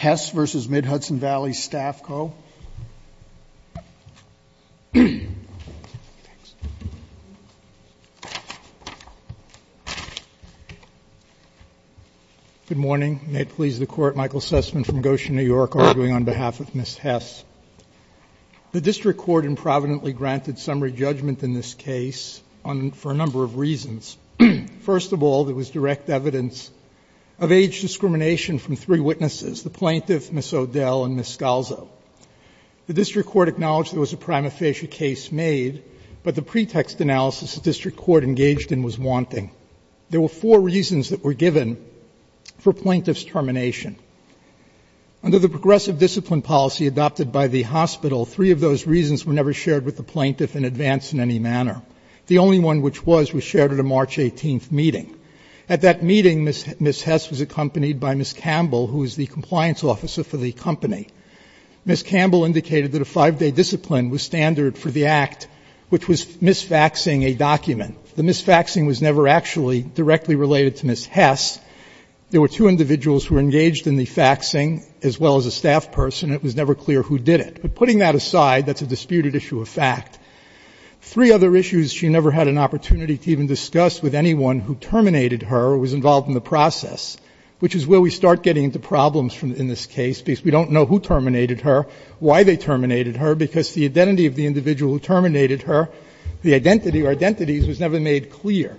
Good morning. May it please the Court, Michael Sussman from Goshen, New York, arguing on behalf of Ms. Hess. The District Court improvidently granted summary judgment in this case for a number of reasons. First of all, there was direct evidence of age discrimination from three witnesses, the plaintiff, Ms. O'Dell, and Ms. Scalzo. The District Court acknowledged there was a prima facie case made, but the pretext analysis the District Court engaged in was wanting. There were four reasons that were given for plaintiff's termination. Under the progressive discipline policy adopted by the hospital, three of those reasons were never shared with the plaintiff in advance in any manner. The only one which was, was shared at a March 18th meeting. At that meeting, Ms. Hess was accompanied by Ms. Campbell, who was the compliance officer for the company. Ms. Campbell indicated that a 5-day discipline was standard for the Act, which was misfaxing a document. The misfaxing was never actually directly related to Ms. Hess. There were two individuals who were engaged in the faxing, as well as a staff person, and it was never clear who did it. But putting that aside, that's a disputed issue of fact. Three other issues she never had an opportunity to even discuss with anyone who terminated her or was involved in the process, which is where we start getting into problems in this case, because we don't know who terminated her, why they terminated her, because the identity of the individual who terminated her, the identity or identities was never made clear.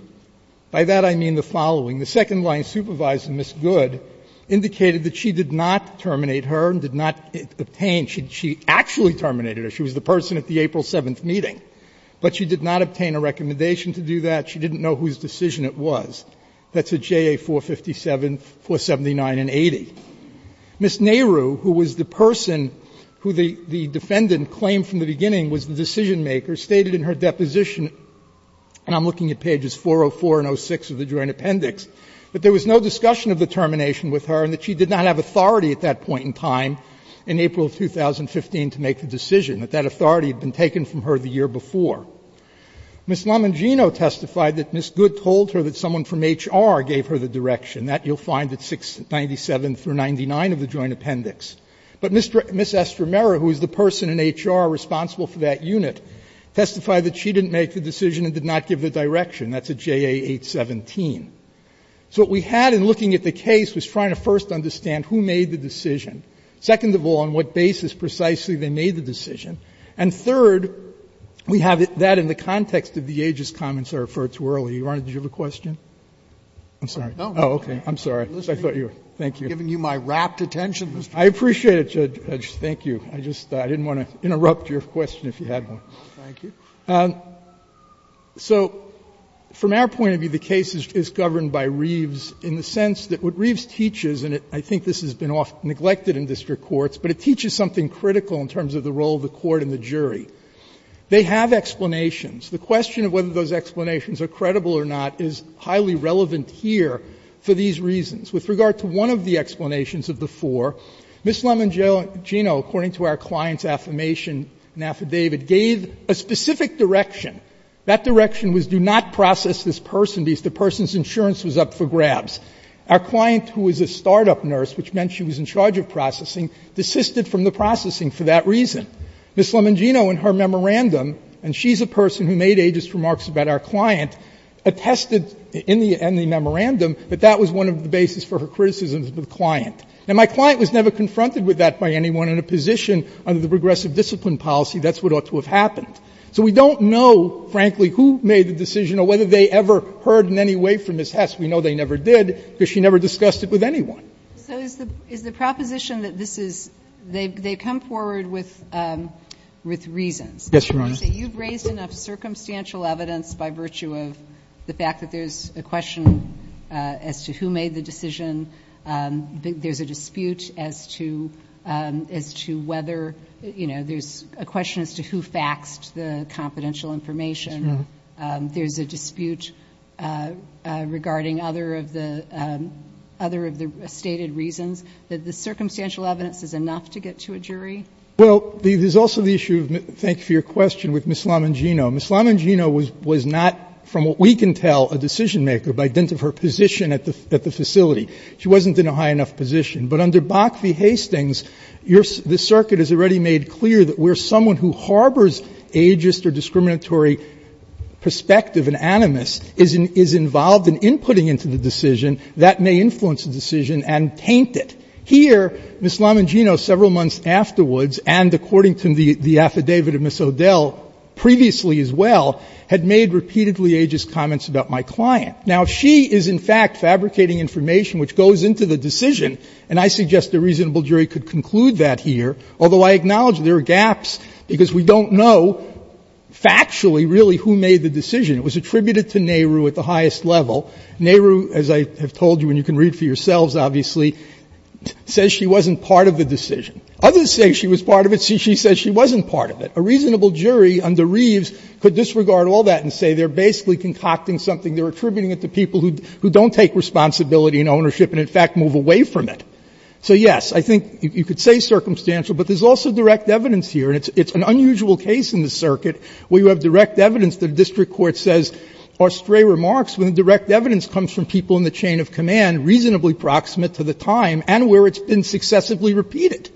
By that, I mean the following. The second-line supervisor, Ms. Good, indicated that she did not terminate her and did not obtain. She actually terminated her. She was the person at the April 7th meeting. But she did not obtain a recommendation to do that. She didn't know whose decision it was. That's at JA 457, 479 and 80. Ms. Nehru, who was the person who the defendant claimed from the beginning was the decision-maker, stated in her deposition, and I'm looking at pages 404 and 06 of the Joint Appendix, that there was no discussion of the termination with her and that she did not have authority at that point in time in April of 2015 to make the decision, that that authority had been taken from her the year before. Ms. Lamangino testified that Ms. Good told her that someone from HR gave her the direction. That you'll find at 697 through 99 of the Joint Appendix. But Ms. Estramera, who is the person in HR responsible for that unit, testified that she didn't make the decision and did not give the direction. That's at JA 817. So what we had in looking at the case was trying to first understand who made the decision, second of all, on what basis precisely they made the decision, and third, we have that in the context of the aegis comments I referred to earlier. Your Honor, did you have a question? I'm sorry. Oh, okay. I'm sorry. I thought you were. Thank you. Sotomayor, giving you my rapt attention, Mr. Chief. I appreciate it, Judge. Thank you. I just didn't want to interrupt your question if you had one. Thank you. So from our point of view, the case is governed by Reeves in the sense that what Reeves teaches, and I think this has been often neglected in district courts, but it teaches something critical in terms of the role of the court and the jury. They have explanations. The question of whether those explanations are credible or not is highly relevant here for these reasons. With regard to one of the explanations of the four, Ms. Lemangino, according to our client's affirmation and affidavit, gave a specific direction. That direction was do not process this person because the person's insurance was up for grabs. Our client, who was a startup nurse, which meant she was in charge of processing, desisted from the processing for that reason. Ms. Lemangino, in her memorandum, and she's a person who made aegis remarks about our client, attested in the memorandum that that was one of the basis for her criticisms of the client. Now, my client was never confronted with that by anyone. In a position under the progressive discipline policy, that's what ought to have happened. So we don't know, frankly, who made the decision or whether they ever heard in any way from Ms. Hess. We know they never did, because she never discussed it with anyone. So is the proposition that this is they come forward with reasons. Yes, Your Honor. So you've raised enough circumstantial evidence by virtue of the fact that there's a question as to who made the decision. There's a dispute as to whether, you know, there's a question as to who faxed the confidential information. There's a dispute regarding other of the stated reasons. The circumstantial evidence is enough to get to a jury? Well, there's also the issue of the question with Ms. Lemangino. Ms. Lemangino was not, from what we can tell, a decision-maker by dint of her position at the facility. She wasn't in a high enough position. But under Bakke v. Hastings, the circuit has already made clear that where someone who harbors ageist or discriminatory perspective and animus is involved in inputting into the decision, that may influence the decision and taint it. Here, Ms. Lemangino, several months afterwards, and according to the affidavit of Ms. O'Dell previously as well, had made repeatedly ageist comments about my client. Now, if she is in fact fabricating information which goes into the decision, and I suggest a reasonable jury could conclude that here, although I acknowledge there are gaps because we don't know factually really who made the decision. It was attributed to Nehru at the highest level. Nehru, as I have told you and you can read for yourselves, obviously, says she wasn't part of the decision. Others say she was part of it. She says she wasn't part of it. A reasonable jury under Reeves could disregard all that and say they are basically concocting something, they are attributing it to people who don't take responsibility and ownership and in fact move away from it. So, yes, I think you could say circumstantial, but there is also direct evidence here, and it's an unusual case in the circuit where you have direct evidence that a district court says are stray remarks when the direct evidence comes from people in the chain of command reasonably proximate to the time and where it's been successively repeated.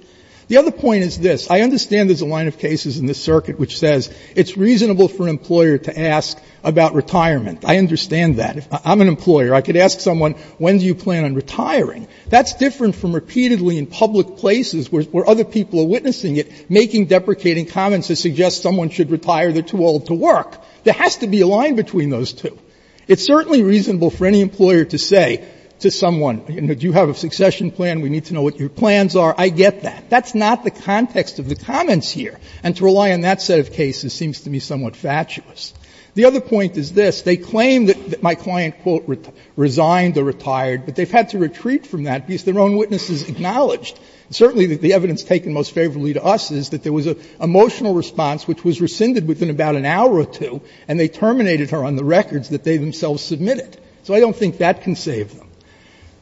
The other point is this. I understand there is a line of cases in this circuit which says it's reasonable for an employer to ask about retirement. I understand that. I'm an employer. I could ask someone, when do you plan on retiring? That's different from repeatedly in public places where other people are witnessing it, making deprecating comments that suggest someone should retire, they are too old to work. There has to be a line between those two. It's certainly reasonable for any employer to say to someone, you know, do you have a succession plan? We need to know what your plans are. I get that. That's not the context of the comments here, and to rely on that set of cases seems to me somewhat fatuous. The other point is this. They claim that my client, quote, resigned or retired, but they have had to retreat from that because their own witnesses acknowledged. Certainly the evidence taken most favorably to us is that there was an emotional response which was rescinded within about an hour or two, and they terminated her on the records that they themselves submitted. So I don't think that can save them.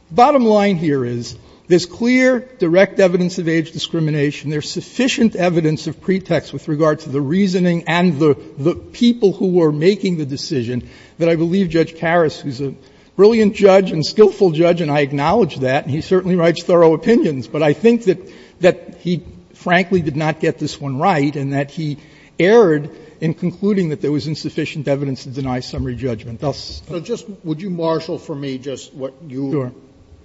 The bottom line here is there is clear, direct evidence of age discrimination. There is sufficient evidence of pretext with regard to the reasoning and the people who were making the decision that I believe Judge Karas, who is a brilliant judge and skillful judge, and I acknowledge that, and he certainly writes thorough opinions, but I think that he frankly did not get this one right and that he erred in concluding that there was insufficient evidence to deny summary judgment. So just would you marshal for me just what you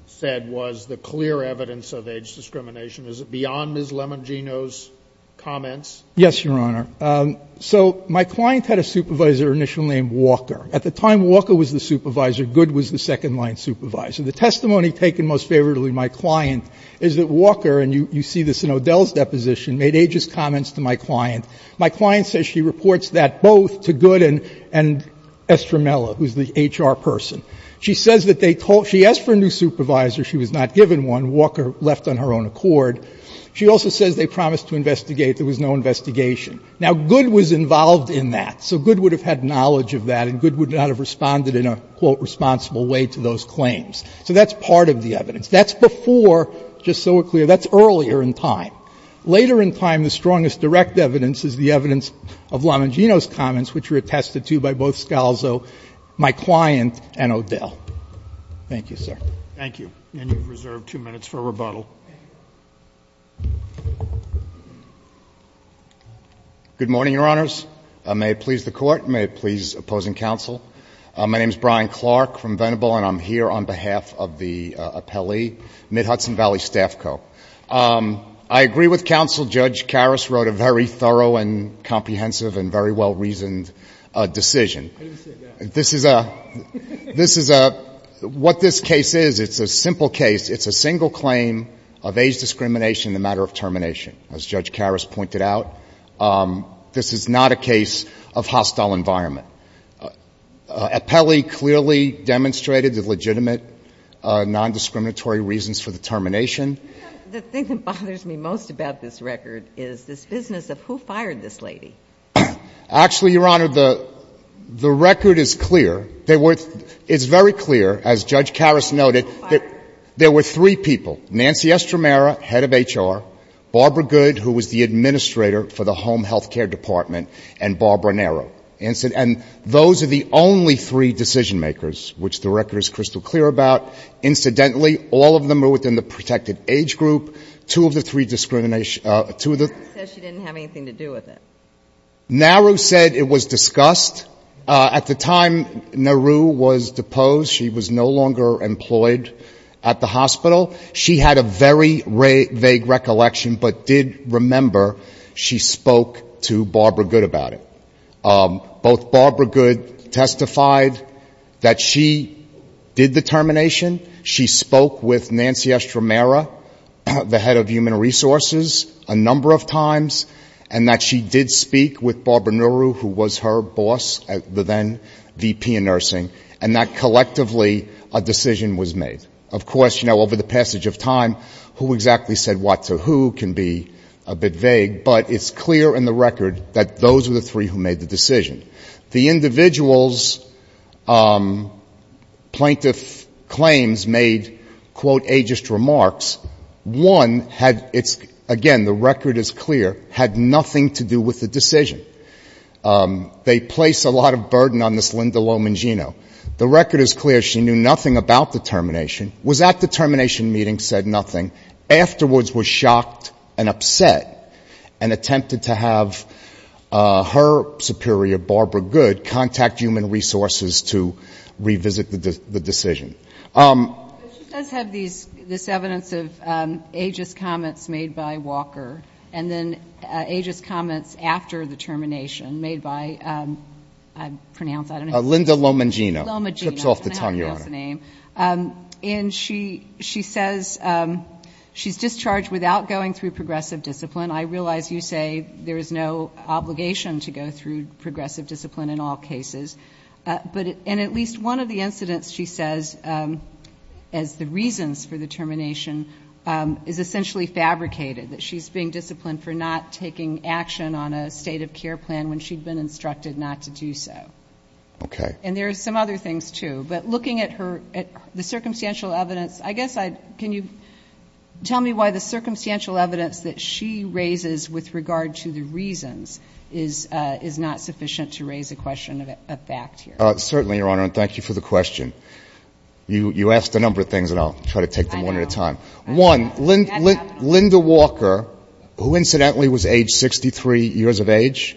said was the clear evidence of age discrimination? Is it beyond Ms. Lemangino's comments? Yes, Your Honor. So my client had a supervisor initially named Walker. At the time, Walker was the supervisor. Good was the second-line supervisor. The testimony taken most favorably by my client is that Walker, and you see this in O'Dell's deposition, made ages comments to my client. My client says she reports that both to Good and Estramella, who is the HR person. She says that they told her, she asked for a new supervisor. She was not given one. Walker left on her own accord. She also says they promised to investigate. There was no investigation. Now, Good was involved in that, so Good would have had knowledge of that and Good would not have responded in a, quote, responsible way to those claims. So that's part of the evidence. That's before, just so we're clear, that's earlier in time. Later in time, the strongest direct evidence is the evidence of Lamangino's comments, which were attested to by both Scalzo, my client, and O'Dell. Thank you, sir. Thank you. And you have reserved two minutes for rebuttal. Good morning, Your Honors. May it please the Court. May it please opposing counsel. My name is Brian Clark from Venable, and I'm here on behalf of the appellee, Mid-Hudson Valley Staff Co. I agree with counsel, Judge Karras wrote a very thorough and comprehensive and very well-reasoned decision. This is a, what this case is, it's a simple case. It's a single claim of age discrimination in the matter of termination, as Judge Karras pointed out. This is not a case of hostile environment. Appellee clearly demonstrated the legitimate nondiscriminatory reasons for the The thing that bothers me most about this record is this business of who fired this lady. Actually, Your Honor, the record is clear. It's very clear, as Judge Karras noted, that there were three people, Nancy Estramera, head of HR, Barbara Good, who was the administrator for the home health care department, and Barbara Nero. And those are the only three decision makers, which the record is crystal clear about. Incidentally, all of them are within the protected age group. Two of the three discrimination, two of the She said she didn't have anything to do with it. Nero said it was discussed. At the time Nero was deposed, she was no longer employed at the hospital. She had a very vague recollection, but did remember she spoke to Barbara Good about it. Both Barbara Good testified that she did the termination. She spoke with Nancy Estramera, the head of human resources, a number of times, and that she did speak with Barbara Nero, who was her boss, the then VP of nursing, and that collectively a decision was made. Of course, you know, over the passage of time, who exactly said what to who can be a bit vague, but it's clear in the record that those were the three who made the decision. The individual's plaintiff claims made, quote, ageist remarks. One had, again, the record is clear, had nothing to do with the decision. They placed a lot of burden on this Linda Lomagino. The record is clear. She knew nothing about the termination, was at the termination meeting, said nothing, afterwards was shocked and upset and attempted to have her superior, Barbara Good, contact human resources to revisit the decision. But she does have these, this evidence of ageist comments made by Walker, and then ageist comments after the termination made by, I pronounce, I don't know. Linda Lomagino. Chips off the tongue, Your Honor. And she says she's discharged without going through progressive discipline. I realize you say there is no obligation to go through progressive discipline in all cases, but in at least one of the incidents she says as the reasons for the termination is essentially fabricated, that she's being disciplined for not taking action on a state of care plan when she'd been instructed not to do so. Okay. And there are some other things, too. But looking at her, at the circumstantial evidence, I guess I'd, can you tell me why the circumstantial evidence that she raises with regard to the reasons is not sufficient to raise a question of fact here? Certainly, Your Honor, and thank you for the question. You asked a number of things, and I'll try to take them one at a time. I know. One, Linda Walker, who incidentally was age 63 years of age,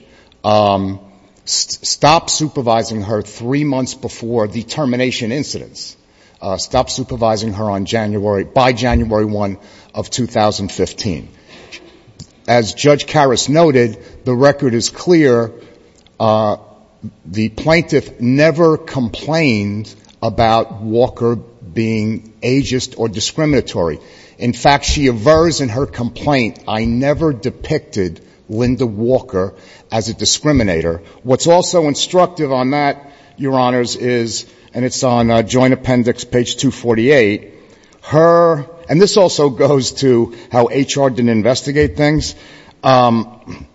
stopped supervising her three months before the termination incidents, stopped supervising her on January, by January 1 of 2015. As Judge Karras noted, the record is clear. The plaintiff never complained about Walker being ageist or discriminatory. In fact, she avers in her complaint, I never depicted Linda Walker as a discriminator. What's also instructive on that, Your Honors, is, and it's on Joint Appendix page 248, her, and this also goes to how HR didn't investigate things, on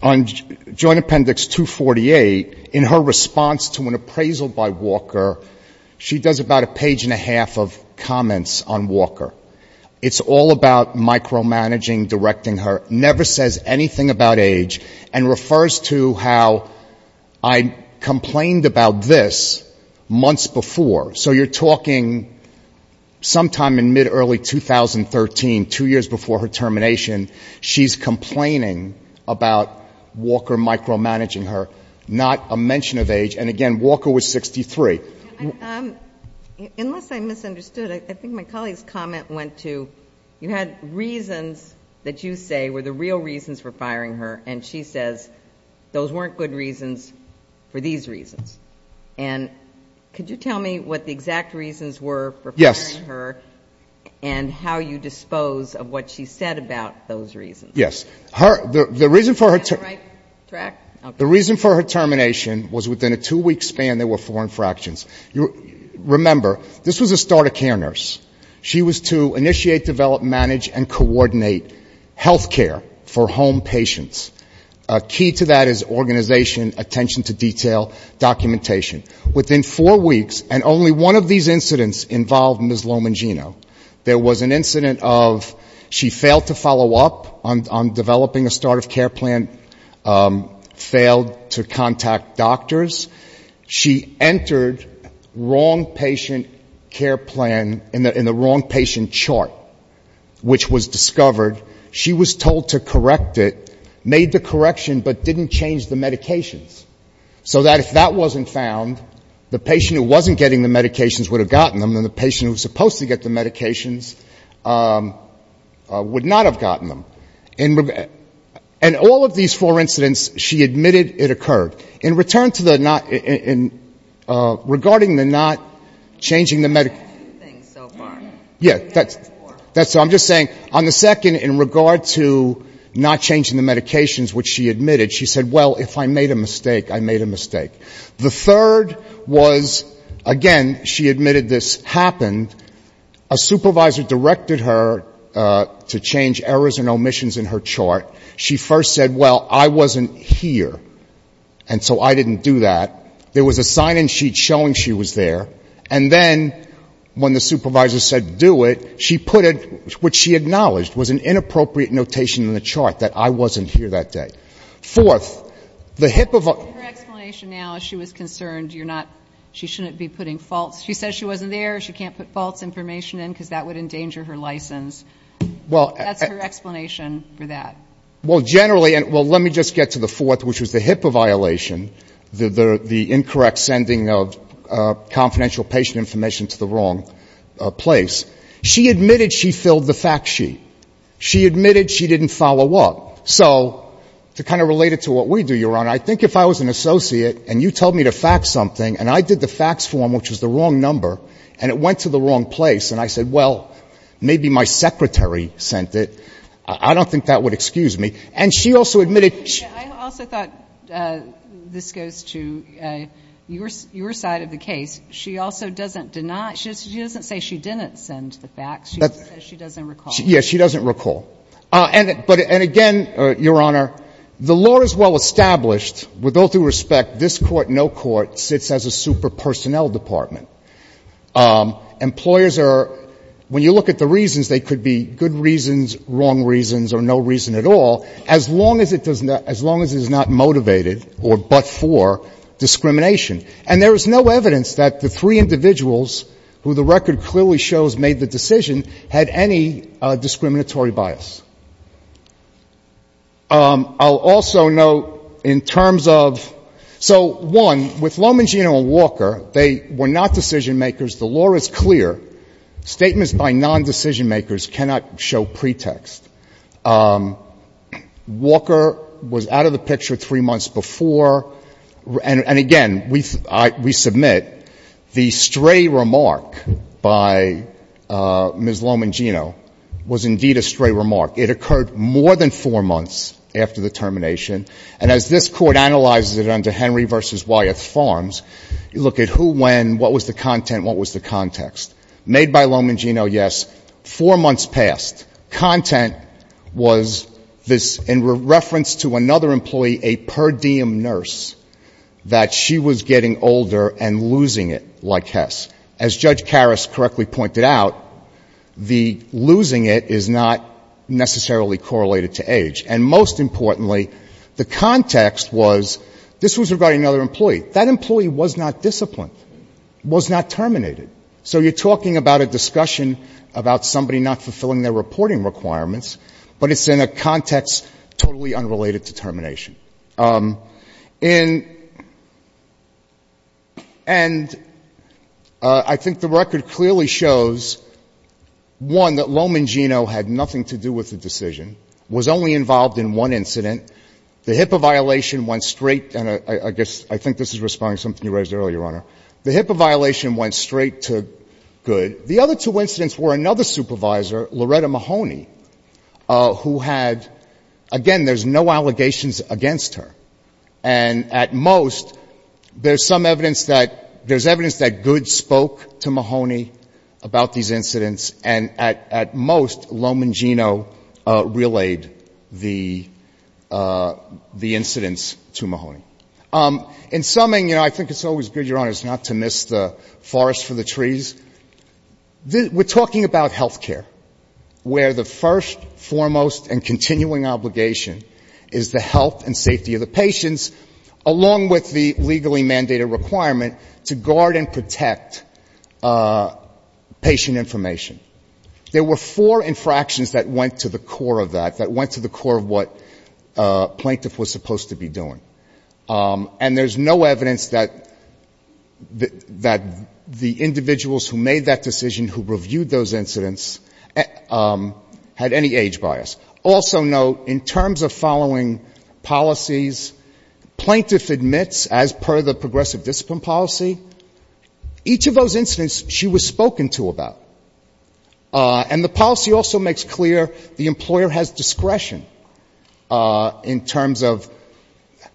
Joint Appendix 248, in her response to an appraisal by Walker, she does about a page and a half of comments on Walker. It's all about micromanaging, directing her, never says anything about age, and refers to how I complained about this months before. So you're talking sometime in mid-early 2013, two years before her termination, she's complaining about Walker micromanaging her, not a mention of age, and again, Walker was 63. Unless I misunderstood, I think my colleague's comment went to, you had reasons that you say were the real reasons for firing her, and she says those weren't good reasons for these reasons. And could you tell me what the exact reasons were for firing her? Yes. And how you dispose of what she said about those reasons. Yes. Her, the reason for her term... Am I on the right track? The reason for her termination was within a two-week span, there were four infractions. Remember, this was a start-of-care nurse. She was to initiate, develop, manage, and coordinate health care for home patients. Key to that is organization, attention to detail, documentation. Within four weeks, and only one of these incidents involved Ms. Lomagino, there was an incident of she failed to follow up on developing a start-of-care plan, failed to contact doctors. She entered wrong patient care plan in the wrong patient chart, which was discovered. She was told to correct it, made the correction, but didn't change the medications. So that if that wasn't found, the patient who wasn't getting the medications would have gotten them, and the patient who was supposed to get the medications would not have gotten them. And all of these four incidents, she admitted it occurred. In return to the not, in regarding the not changing the medic... ...things so far. Yes. That's what I'm just saying. On the second, in regard to not changing the medications, which she admitted, she said, well, if I made a mistake, I made a mistake. The third was, again, she admitted this happened. A supervisor directed her to change errors and omissions in her chart. She first said, well, I wasn't here, and so I didn't do that. There was a sign-in sheet showing she was there. And then when the supervisor said do it, she put it, which she acknowledged, was an inappropriate notation in the chart, that I wasn't here that day. Fourth, the HIPAA... Your explanation now is she was concerned you're not, she shouldn't be putting false, she said she wasn't there, she can't put false information in, because that would endanger her license. Well... That's her explanation for that. Well, generally, well, let me just get to the fourth, which was the HIPAA violation, the incorrect sending of confidential patient information to the wrong place. She admitted she filled the fact sheet. She admitted she didn't follow up. So to kind of relate it to what we do, Your Honor, I think if I was an associate and you told me to fax something and I did the fax form, which was the wrong number, and it went to the wrong place, and I said, well, maybe my secretary sent it, I don't think that would excuse me. And she also admitted... I also thought, this goes to your side of the case, she also doesn't deny, she doesn't say she didn't send the fax, she says she doesn't recall. Yes, she doesn't recall. And again, Your Honor, the law is well established. With all due respect, this Court, no court, sits as a super personnel department. Employers are, when you look at the reasons, they could be good reasons, wrong reasons, or no reason at all, as long as it is not motivated or but for discrimination. And there is no evidence that the three individuals who the record clearly shows made the decision had any discriminatory bias. I'll also note, in terms of... So, one, with Lomagino and Walker, they were not decision-makers. The law is clear. Statements by non-decision-makers cannot show pretext. Walker was out of the picture three months before. And again, we submit, the stray remark by Ms. Lomagino was indeed a stray remark. It occurred more than four months after the termination. And as this Court analyzes it under Henry v. Wyeth Farms, you look at who, when, what was the content, what was the context. Made by Lomagino, yes. Four months passed. Content was this, in reference to another employee, a per diem nurse, that she was getting older and losing it, like Hess. As Judge Karras correctly pointed out, the losing it is not necessarily correlated to age. And most importantly, the context was, this was regarding another employee. That employee was not disciplined, was not terminated. So you're talking about a discussion about somebody not fulfilling their reporting requirements, but it's in a context totally unrelated to termination. And I think the record clearly shows, one, that Lomagino had nothing to do with the decision, was only involved in one incident. The HIPAA violation went straight, and I guess, I think this is responding to something you raised earlier, Your Honor. The HIPAA violation went straight to Good. The other two incidents were another supervisor, Loretta Mahoney, who had, again, there's no allegations against her. And at most, there's some evidence that, there's evidence that Good spoke to Mahoney about these incidents. And at most, Lomagino relayed the incidents to Mahoney. In summing, you know, I think it's always good, Your Honor, not to miss the forest for the trees. We're talking about health care, where the first, foremost, and continuing obligation is the health and safety of the patients, along with the legally mandated requirement to guard and protect patient information. There were four infractions that went to the core of that, that went to the core of what a plaintiff was supposed to be doing. And there's no evidence that the individuals who made that decision, who reviewed those incidents, had any age bias. Also note, in terms of following policies, plaintiff admits, as per the progressive discipline policy, each of those incidents she was spoken to about. And the policy also makes clear the employer has discretion in terms of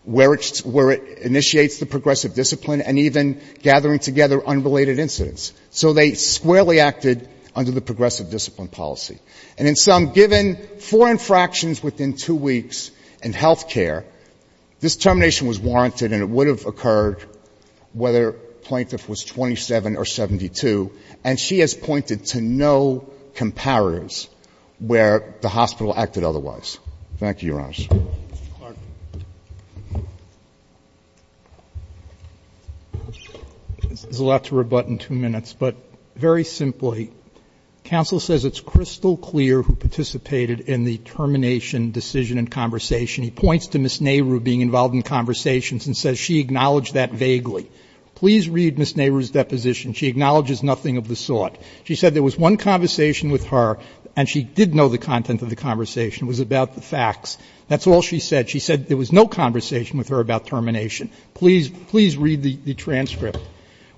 where it initiates the progressive discipline and even gathering together unrelated incidents. So they squarely acted under the progressive discipline policy. And in sum, given four infractions within two weeks in health care, this termination was warranted, and it would have occurred whether plaintiff was 27 or 72. And she has pointed to no comparatives where the hospital acted otherwise. Thank you, Your Honor. There's a lot to rebut in two minutes, but very simply, counsel says it's crystal clear who participated in the termination decision and conversation. He points to Ms. Nehru being involved in conversations and says she acknowledged that vaguely. Please read Ms. Nehru's deposition. She acknowledges nothing of the sort. She said there was one conversation with her, and she did know the content of the conversation. It was about the facts. That's all she said. She said there was no conversation with her about termination. Please read the transcript.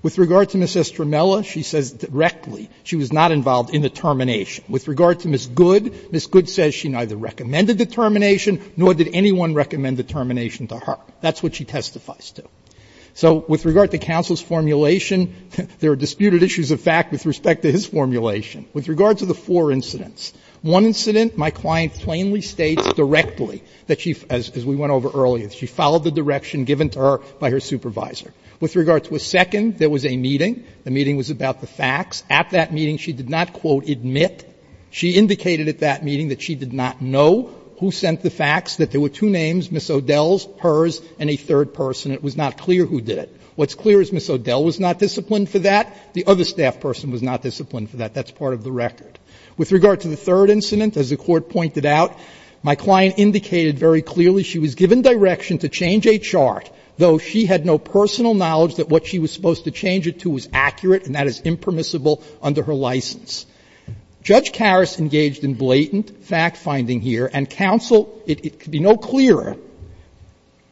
With regard to Ms. Estramella, she says directly she was not involved in the termination. With regard to Ms. Good, Ms. Good says she neither recommended the termination nor did anyone recommend the termination to her. That's what she testifies to. So with regard to counsel's formulation, there are disputed issues of fact with respect to his formulation. With regard to the four incidents, one incident my client plainly states directly that she, as we went over earlier, she followed the direction given to her by her supervisor. With regard to a second, there was a meeting. The meeting was about the facts. At that meeting, she did not, quote, admit. She indicated at that meeting that she did not know who sent the facts, that there were two names, Ms. O'Dell's, hers, and a third person. It was not clear who did it. What's clear is Ms. O'Dell was not disciplined for that. The other staff person was not disciplined for that. That's part of the record. With regard to the third incident, as the Court pointed out, my client indicated very clearly she was given direction to change a chart, though she had no personal knowledge that what she was supposed to change it to was accurate, and that is impermissible. Under her license. Judge Karras engaged in blatant fact-finding here, and counsel, it could be no clearer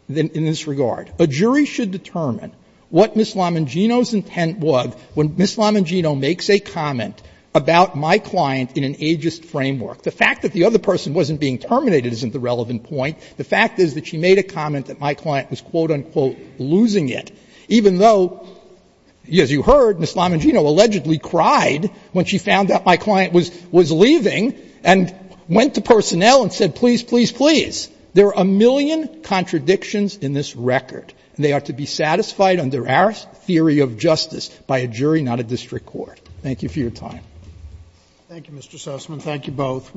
in this regard. A jury should determine what Ms. Lamangino's intent was when Ms. Lamangino makes a comment about my client in an ageist framework. The fact that the other person wasn't being terminated isn't the relevant point. The fact is that she made a comment that my client was, quote, unquote, losing it, even though, as you heard, Ms. Lamangino allegedly cried when she found out my client was leaving and went to personnel and said, please, please, please. There are a million contradictions in this record. And they are to be satisfied under our theory of justice, by a jury, not a district court. Thank you for your time. Thank you, Mr. Sussman. Thank you both.